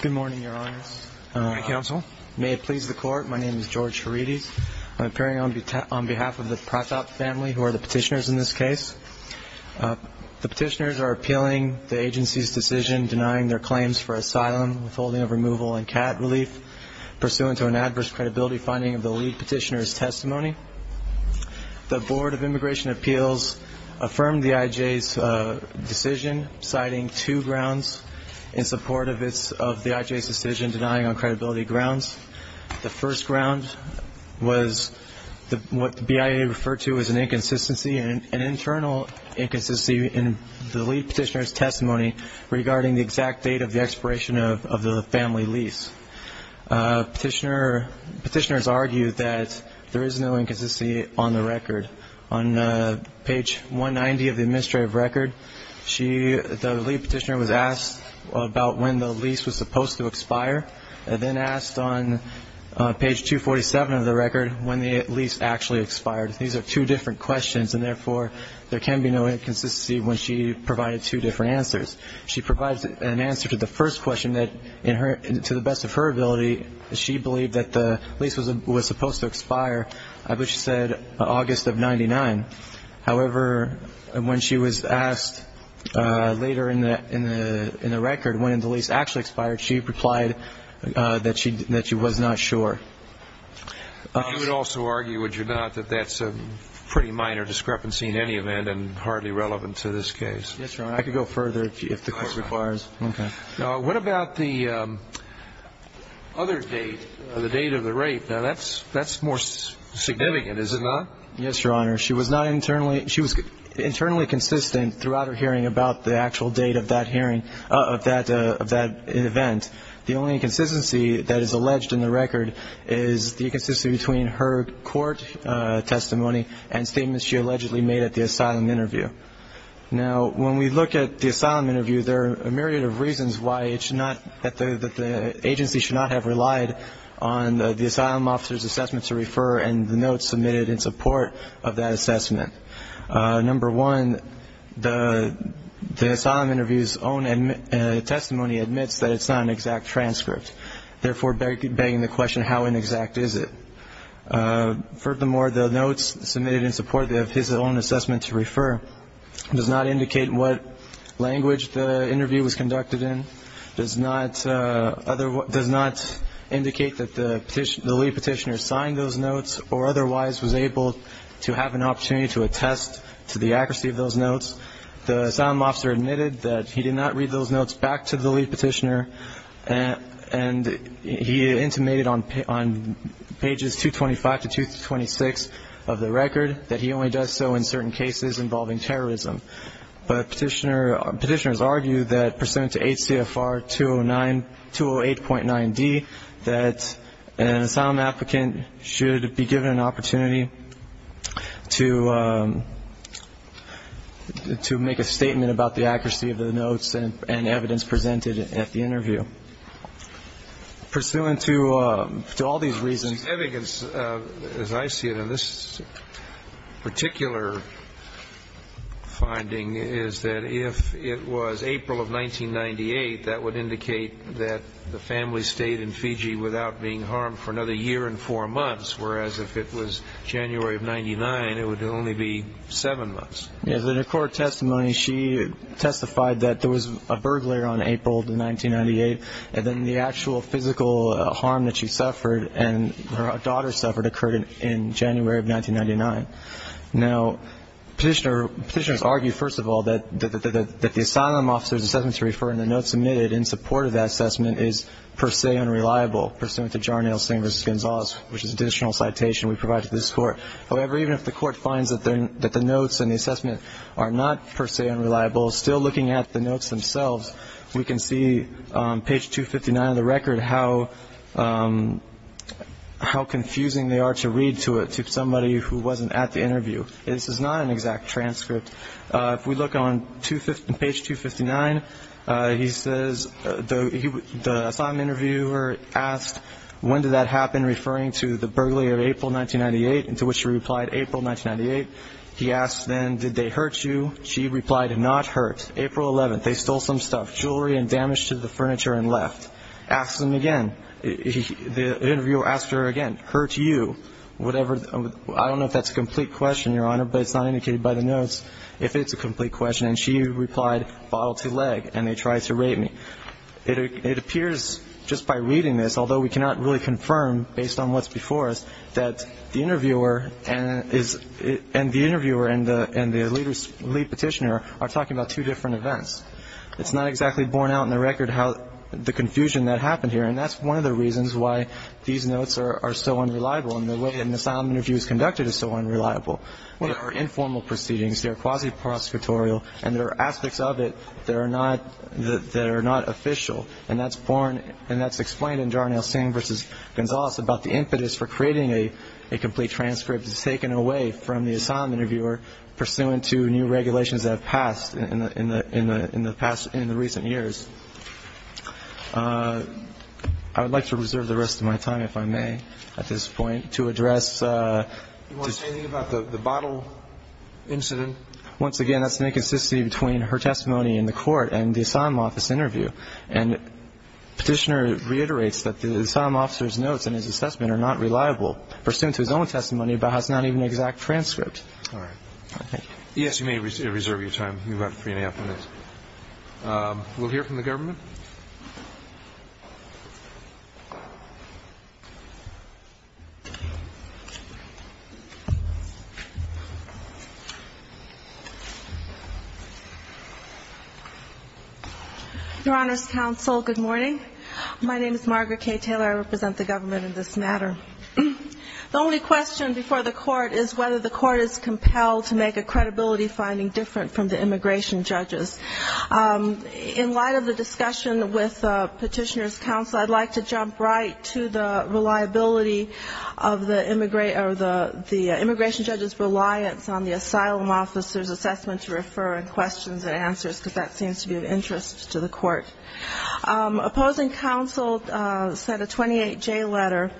Good morning, Your Honors. Good morning, Counsel. May it please the Court, my name is George Herides. I'm appearing on behalf of the Pratap family, who are the petitioners in this case. The petitioners are appealing the agency's decision denying their claims for asylum withholding of removal and cat relief, pursuant to an adverse credibility finding of the lead petitioner's testimony. The Board of Immigration Appeals affirmed the IJ's decision, citing two grounds in support of the IJ's decision denying on credibility grounds. The first ground was what the BIA referred to as an inconsistency, an internal inconsistency in the lead petitioner's testimony regarding the exact date of the expiration of the family lease. Petitioners argue that there is no inconsistency on the record. On page 190 of the administrative record, the lead petitioner was asked about when the lease was supposed to expire, and then asked on page 247 of the record when the lease actually expired. These are two different questions, and therefore there can be no inconsistency when she provided two different answers. She provides an answer to the first question that, to the best of her ability, she believed that the lease was supposed to expire. But she said August of 99. However, when she was asked later in the record when the lease actually expired, she replied that she was not sure. You would also argue, would you not, that that's a pretty minor discrepancy in any event and hardly relevant to this case? Yes, Your Honor. I could go further if the Court requires. Okay. What about the other date, the date of the rape? That's more significant, is it not? Yes, Your Honor. She was internally consistent throughout her hearing about the actual date of that hearing, of that event. The only inconsistency that is alleged in the record is the inconsistency between her court testimony and statements she allegedly made at the asylum interview. Now, when we look at the asylum interview, there are a myriad of reasons why it should not, that the agency should not have relied on the asylum officer's assessment to refer and the notes submitted in support of that assessment. Number one, the asylum interview's own testimony admits that it's not an exact transcript, therefore begging the question, how inexact is it? Furthermore, the notes submitted in support of his own assessment to refer does not indicate what language the interview was conducted in, does not indicate that the lead petitioner signed those notes or otherwise was able to have an opportunity to attest to the accuracy of those notes. The asylum officer admitted that he did not read those notes back to the lead petitioner and he intimated on pages 225 to 226 of the record that he only does so in certain cases involving terrorism. But petitioners argue that pursuant to 8 CFR 208.9D, that an asylum applicant should be given an opportunity to make a statement about the accuracy of the notes and evidence presented at the interview. Pursuant to all these reasons. The evidence, as I see it in this particular finding, is that if it was April of 1998, that would indicate that the family stayed in Fiji without being harmed for another year and four months, whereas if it was January of 1999, it would only be seven months. In her court testimony, she testified that there was a burglar on April of 1998 and then the actual physical harm that she suffered and her daughter suffered occurred in January of 1999. Now, petitioners argue, first of all, that the asylum officer's assessment to refer and the notes submitted in support of that assessment is per se unreliable, pursuant to Jarnail Singh v. Gonzalez, which is an additional citation we provide to this court. However, even if the court finds that the notes and the assessment are not per se unreliable, still looking at the notes themselves, we can see on page 259 of the record how confusing they are to read to somebody who wasn't at the interview. This is not an exact transcript. If we look on page 259, he says the asylum interviewer asked, When did that happen, referring to the burglary of April 1998? To which she replied, April 1998. He asked then, Did they hurt you? She replied, Not hurt. April 11th, they stole some stuff, jewelry and damage to the furniture and left. Asked them again. The interviewer asked her again, Hurt you? Whatever, I don't know if that's a complete question, Your Honor, but it's not indicated by the notes if it's a complete question. And she replied, Bottle to leg, and they tried to rape me. It appears just by reading this, although we cannot really confirm based on what's before us, that the interviewer and the lead petitioner are talking about two different events. It's not exactly borne out in the record the confusion that happened here, and that's one of the reasons why these notes are so unreliable and the way an asylum interview is conducted is so unreliable. They are informal proceedings. They are quasi-prosecutorial, and there are aspects of it that are not official, and that's explained in Jarnail Singh v. Gonzales about the impetus for creating a complete transcript that's taken away from the asylum interviewer pursuant to new regulations that have passed in the recent years. I would like to reserve the rest of my time, if I may, at this point to address. Do you want to say anything about the bottle incident? Once again, that's the inconsistency between her testimony in the court and the asylum office interview, and the petitioner reiterates that the asylum officer's notes in his assessment are not reliable, pursuant to his own testimony, but has not even an exact transcript. All right. Thank you. Yes, you may reserve your time. We'll hear from the government. Your Honor's counsel, good morning. My name is Margaret K. Taylor. I represent the government in this matter. The only question before the Court is whether the Court is compelled to make a credibility finding different from the immigration judges. In light of the discussion with Petitioner's counsel, I'd like to jump right to the reliability of the immigration judge's reliance on the asylum officer's assessment to refer in questions and answers, because that seems to be of interest to the Court. Opposing counsel sent a 28-J letter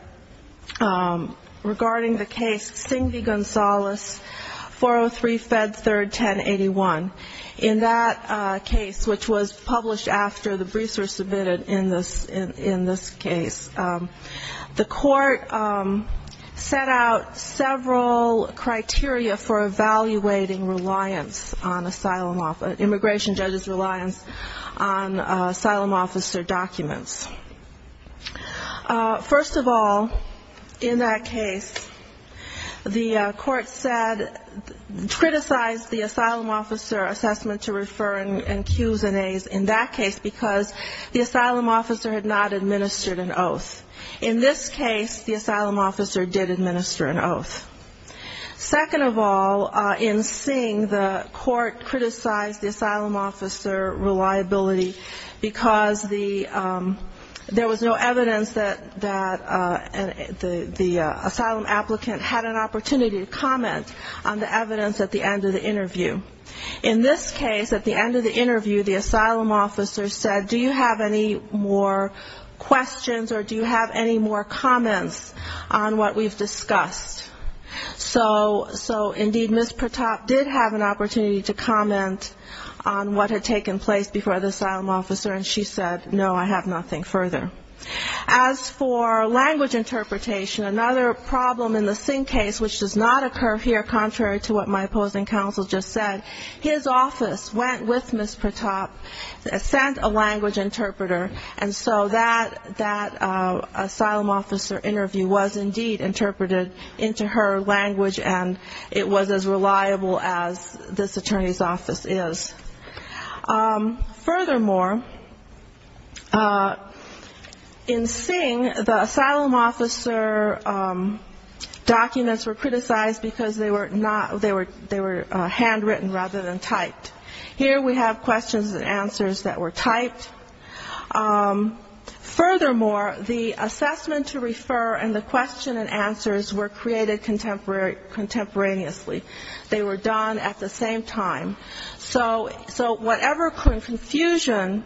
regarding the case Cingvi-Gonzalez, 403 Fed 3rd, 1081. In that case, which was published after the briefs were submitted in this case, the Court set out several criteria for evaluating reliance on asylum office, immigration judge's reliance on asylum officer documents. First of all, in that case, the Court said, criticized the asylum officer assessment to refer in Qs and As in that case, because the asylum officer had not administered an oath. In this case, the asylum officer did administer an oath. Second of all, in Cing, the Court criticized the asylum officer reliability, because there was no evidence that the asylum applicant had an opportunity to comment on the evidence at the end of the interview. In this case, at the end of the interview, the asylum officer said, do you have any more questions or do you have any more comments on what we've discussed? So indeed, Ms. Pratap did have an opportunity to comment on what had taken place before the asylum officer, and she said, no, I have nothing further. As for language interpretation, another problem in the Cing case, which does not occur here contrary to what my opposing counsel just said, his office went with Ms. Pratap, sent a language interpreter, and so that asylum officer interview was indeed interpreted into her language and it was as reliable as this attorney's office is. Furthermore, in Cing, the asylum officer documents were criticized because they were handwritten rather than typed. Here we have questions and answers that were typed. Furthermore, the assessment to refer and the question and answers were created contemporaneously. They were done at the same time. So whatever confusion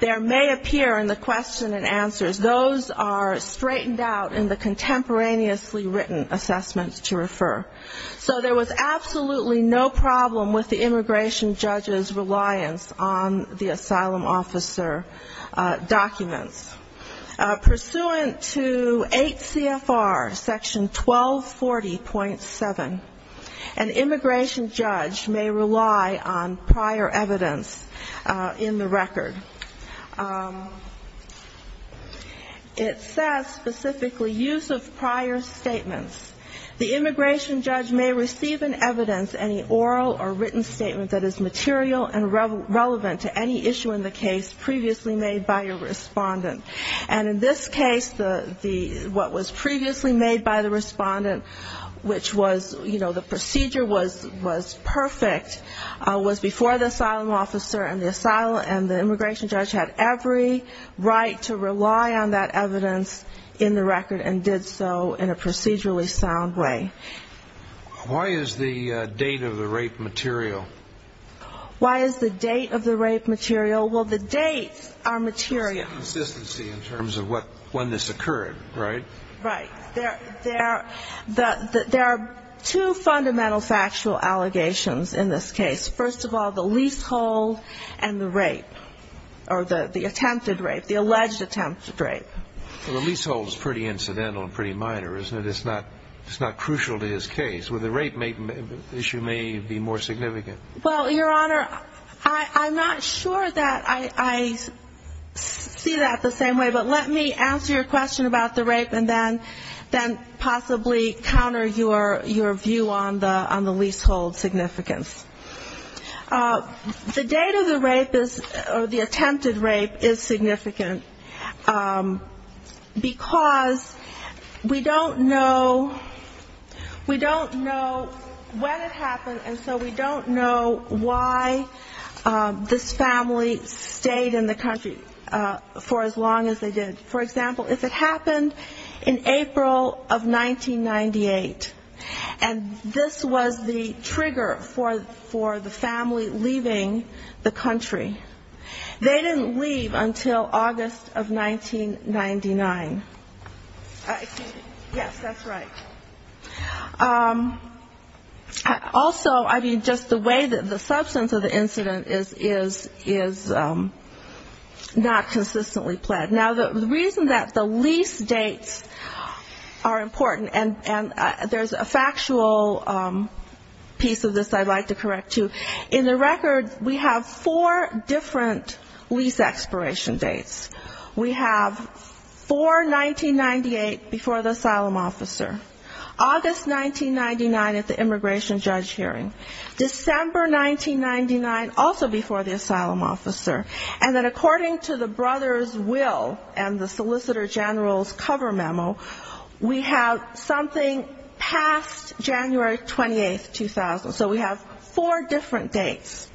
there may appear in the question and answers, those are straightened out in the contemporaneously written assessments to refer. So there was absolutely no problem with the immigration judge's reliance on the asylum officer documents. Pursuant to 8 CFR section 1240.7, an immigration judge may rely on prior evidence in the record. It says specifically use of prior statements. The immigration judge may receive in evidence any oral or written statement that is material and relevant to any issue in the case previously made by a respondent. And in this case, what was previously made by the respondent, which was, you know, the procedure was perfect, was before the asylum officer and the immigration judge had every right to rely on that evidence in the record and did so in a procedurally sound way. Why is the date of the rape material? Well, the dates are material. Consistency in terms of when this occurred, right? There are two fundamental factual allegations in this case. First of all, the leasehold and the rape, or the attempted rape, the alleged attempted rape. Well, the leasehold is pretty incidental and pretty minor, isn't it? It's not crucial to his case. Well, the rape issue may be more significant. Well, Your Honor, I'm not sure that I see that the same way, but let me answer your question about the rape and then possibly counter your view on the leasehold significance. The date of the rape or the attempted rape is significant because we don't know when it happened, and so we don't know why this family stayed in the country for as long as they did. For example, if it happened in April of 1998, and this was the trigger for the family leaving the country, they didn't leave until August of 1999. Yes, that's right. So, I mean, just the way that the substance of the incident is not consistently pled. Now, the reason that the lease dates are important, and there's a factual piece of this I'd like to correct, too. In the record, we have four different lease expiration dates. We have 4-1998 before the asylum officer, August 1999 at the immigration judge hearing, December 1999, also before the asylum officer, and then according to the brother's will and the solicitor general's cover memo, we have something past January 28, 2000. So we have four different dates.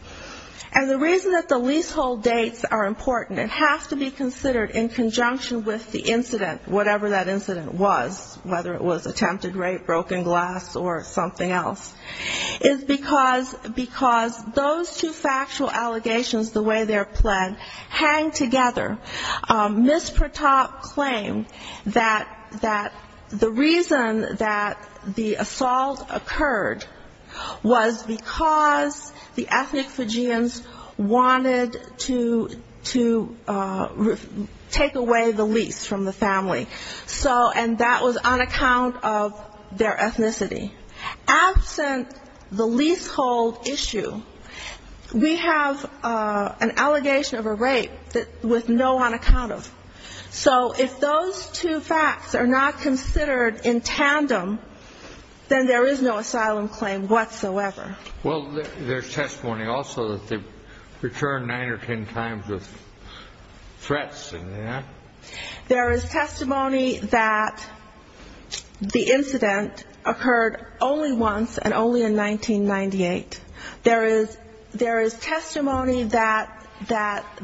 And the reason that the leasehold dates are important and have to be considered in conjunction with the incident, whatever that incident was, whether it was attempted rape, broken glass, or something else, is because those two factual allegations, the way they're pled, hang together. Ms. Pratop claimed that the reason that the assault occurred was because the ethnic Fijians wanted to take away the lease from the family, and that was on account of their ethnicity. Absent the leasehold issue, we have an allegation of a rape with no on account of. So if those two facts are not considered in tandem, then there is no asylum claim whatsoever. Well, there's testimony also that they've returned nine or ten times with threats and that. There is testimony that the incident occurred only once and only in 1998. There is testimony that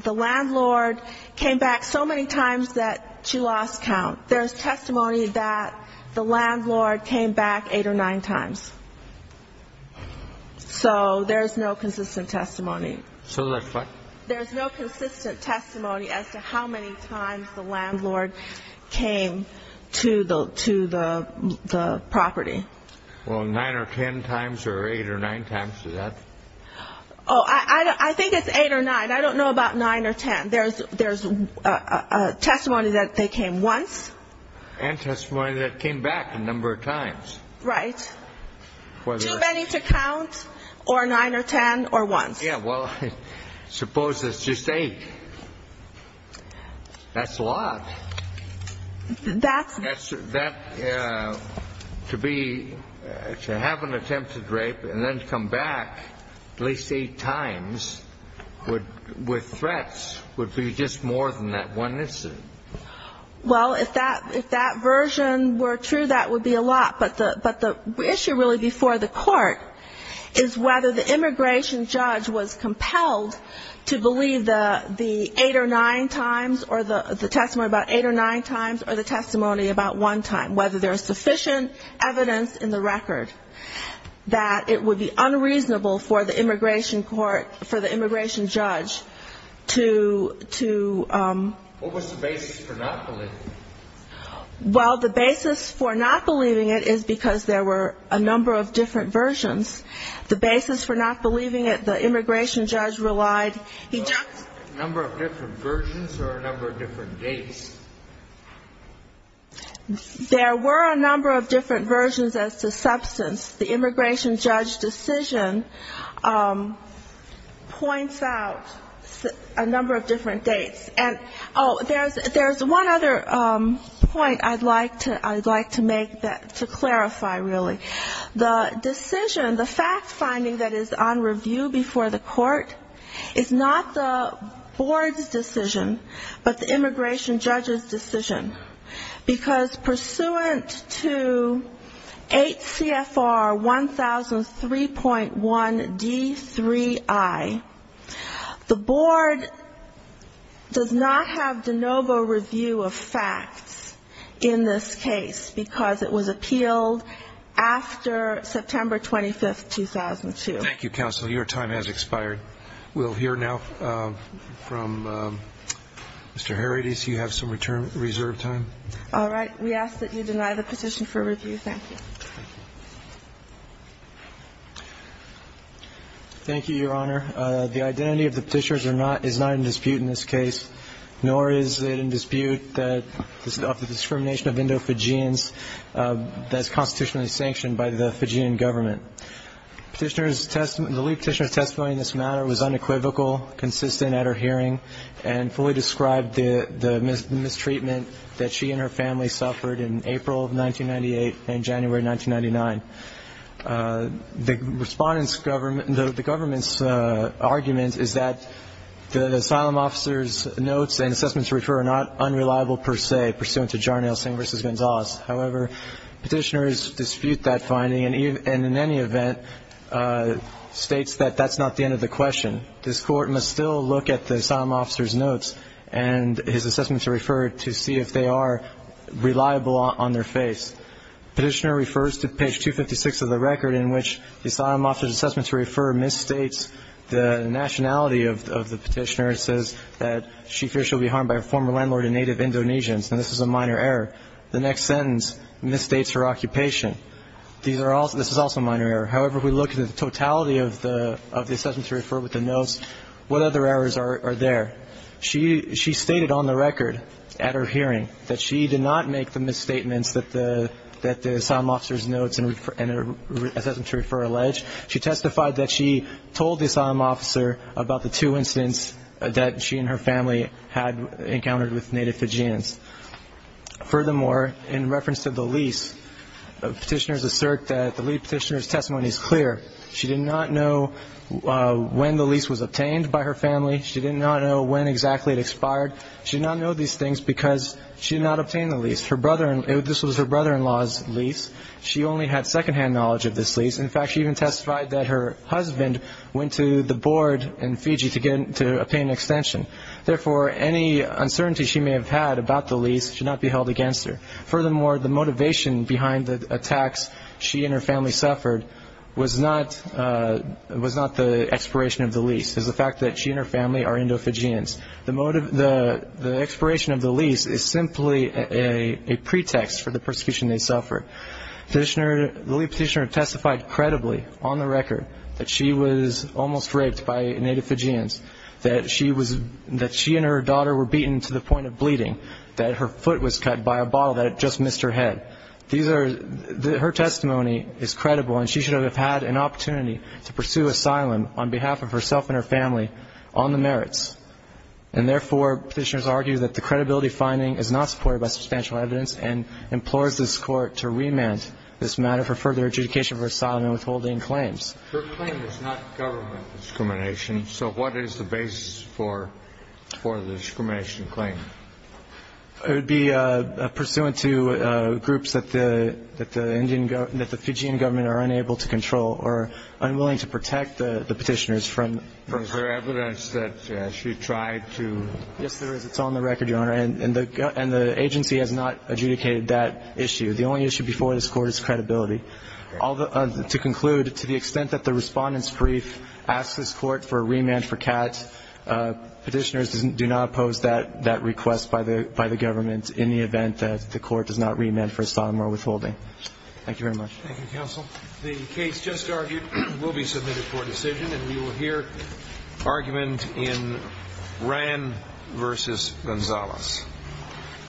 the landlord came back so many times that she lost count. There's testimony that the landlord came back eight or nine times. So there's no consistent testimony. There's no consistent testimony as to how many times the landlord came to the property. Well, nine or ten times or eight or nine times, is that? Oh, I think it's eight or nine. I don't know about nine or ten. There's testimony that they came once. And testimony that came back a number of times. Right. Too many to count, or nine or ten, or once. Yeah, well, suppose it's just eight. That's a lot. That's... To have an attempted rape and then come back at least eight times with threats would be just more than that one incident. Well, if that version were true, that would be a lot. But the issue really before the Court is whether the immigration judge was compelled to believe the eight or nine times or the testimony about one time, whether there's sufficient evidence in the record that it would be unreasonable for the immigration court, for the immigration judge to... What was the basis for not believing it? Well, the basis for not believing it is because there were a number of different versions. The basis for not believing it, the immigration judge relied... A number of different versions or a number of different dates? There were a number of different versions as to substance. The immigration judge decision points out a number of different dates. And, oh, there's one other point I'd like to make to clarify, really. The decision, the fact-finding that is on review before the Court is not the Board's decision, but the immigration judge's decision. Because pursuant to 8 CFR 1003.1 D3I, the Board does not have de novo review of facts in this case, because it was appealed after September 25, 2002. Thank you, counsel. Your time has expired. We'll hear now from Mr. Herides. You have some reserve time. All right. We ask that you deny the petition for review. Thank you. Thank you, Your Honor. Your Honor, the identity of the petitioners is not in dispute in this case, nor is it in dispute of the discrimination of Indo-Fijians that is constitutionally sanctioned by the Fijian government. The lead petitioner's testimony in this matter was unequivocal, consistent at her hearing, and fully described the mistreatment that she and her family suffered in April of 1998 and January 1999. The government's argument is that the asylum officer's notes and assessments to refer are not unreliable per se, pursuant to Jarnail Singh v. Gonzales. However, petitioners dispute that finding and, in any event, states that that's not the end of the question. This Court must still look at the asylum officer's notes and his assessments to refer to see if they are reliable on their face. Petitioner refers to page 256 of the record in which the asylum officer's assessments to refer misstates the nationality of the petitioner. It says that she fears she'll be harmed by her former landlord and native Indonesians, and this is a minor error. The next sentence misstates her occupation. This is also a minor error. However, if we look at the totality of the assessments to refer with the notes, what other errors are there? She stated on the record at her hearing that she did not make the misstatements that the asylum officer's notes and assessments to refer allege. She testified that she told the asylum officer about the two incidents that she and her family had encountered with native Fijians. Furthermore, in reference to the lease, petitioners assert that the lead petitioner's testimony is clear. She did not know when the lease was obtained by her family. She did not know when exactly it expired. She did not know these things because she did not obtain the lease. This was her brother-in-law's lease. She only had secondhand knowledge of this lease. In fact, she even testified that her husband went to the board in Fiji to pay an extension. Therefore, any uncertainty she may have had about the lease should not be held against her. Furthermore, the motivation behind the attacks she and her family suffered was not the expiration of the lease. It's the fact that she and her family are Indo-Fijians. The expiration of the lease is simply a pretext for the persecution they suffered. The lead petitioner testified credibly on the record that she was almost raped by native Fijians, that she and her daughter were beaten to the point of bleeding, that her foot was cut by a bottle, that it just missed her head. Her testimony is credible, and she should have had an opportunity to pursue asylum on behalf of herself and her family on the merits. And therefore, petitioners argue that the credibility finding is not supported by substantial evidence and implores this Court to remand this matter for further adjudication for asylum and withholding claims. Her claim is not government discrimination, so what is the basis for the discrimination claim? It would be pursuant to groups that the Fijian government are unable to control or unwilling to protect the petitioners from... Yes, there is. It's on the record, Your Honor, and the agency has not adjudicated that issue. The only issue before this Court is credibility. To conclude, to the extent that the Respondent's Brief asks this Court for a remand for Kat, petitioners do not oppose that request by the government in the event that the Court does not remand for asylum or withholding. Thank you very much. Thank you, Counsel. The case just argued will be submitted for decision, and we will hear argument in Ran v. Gonzalez.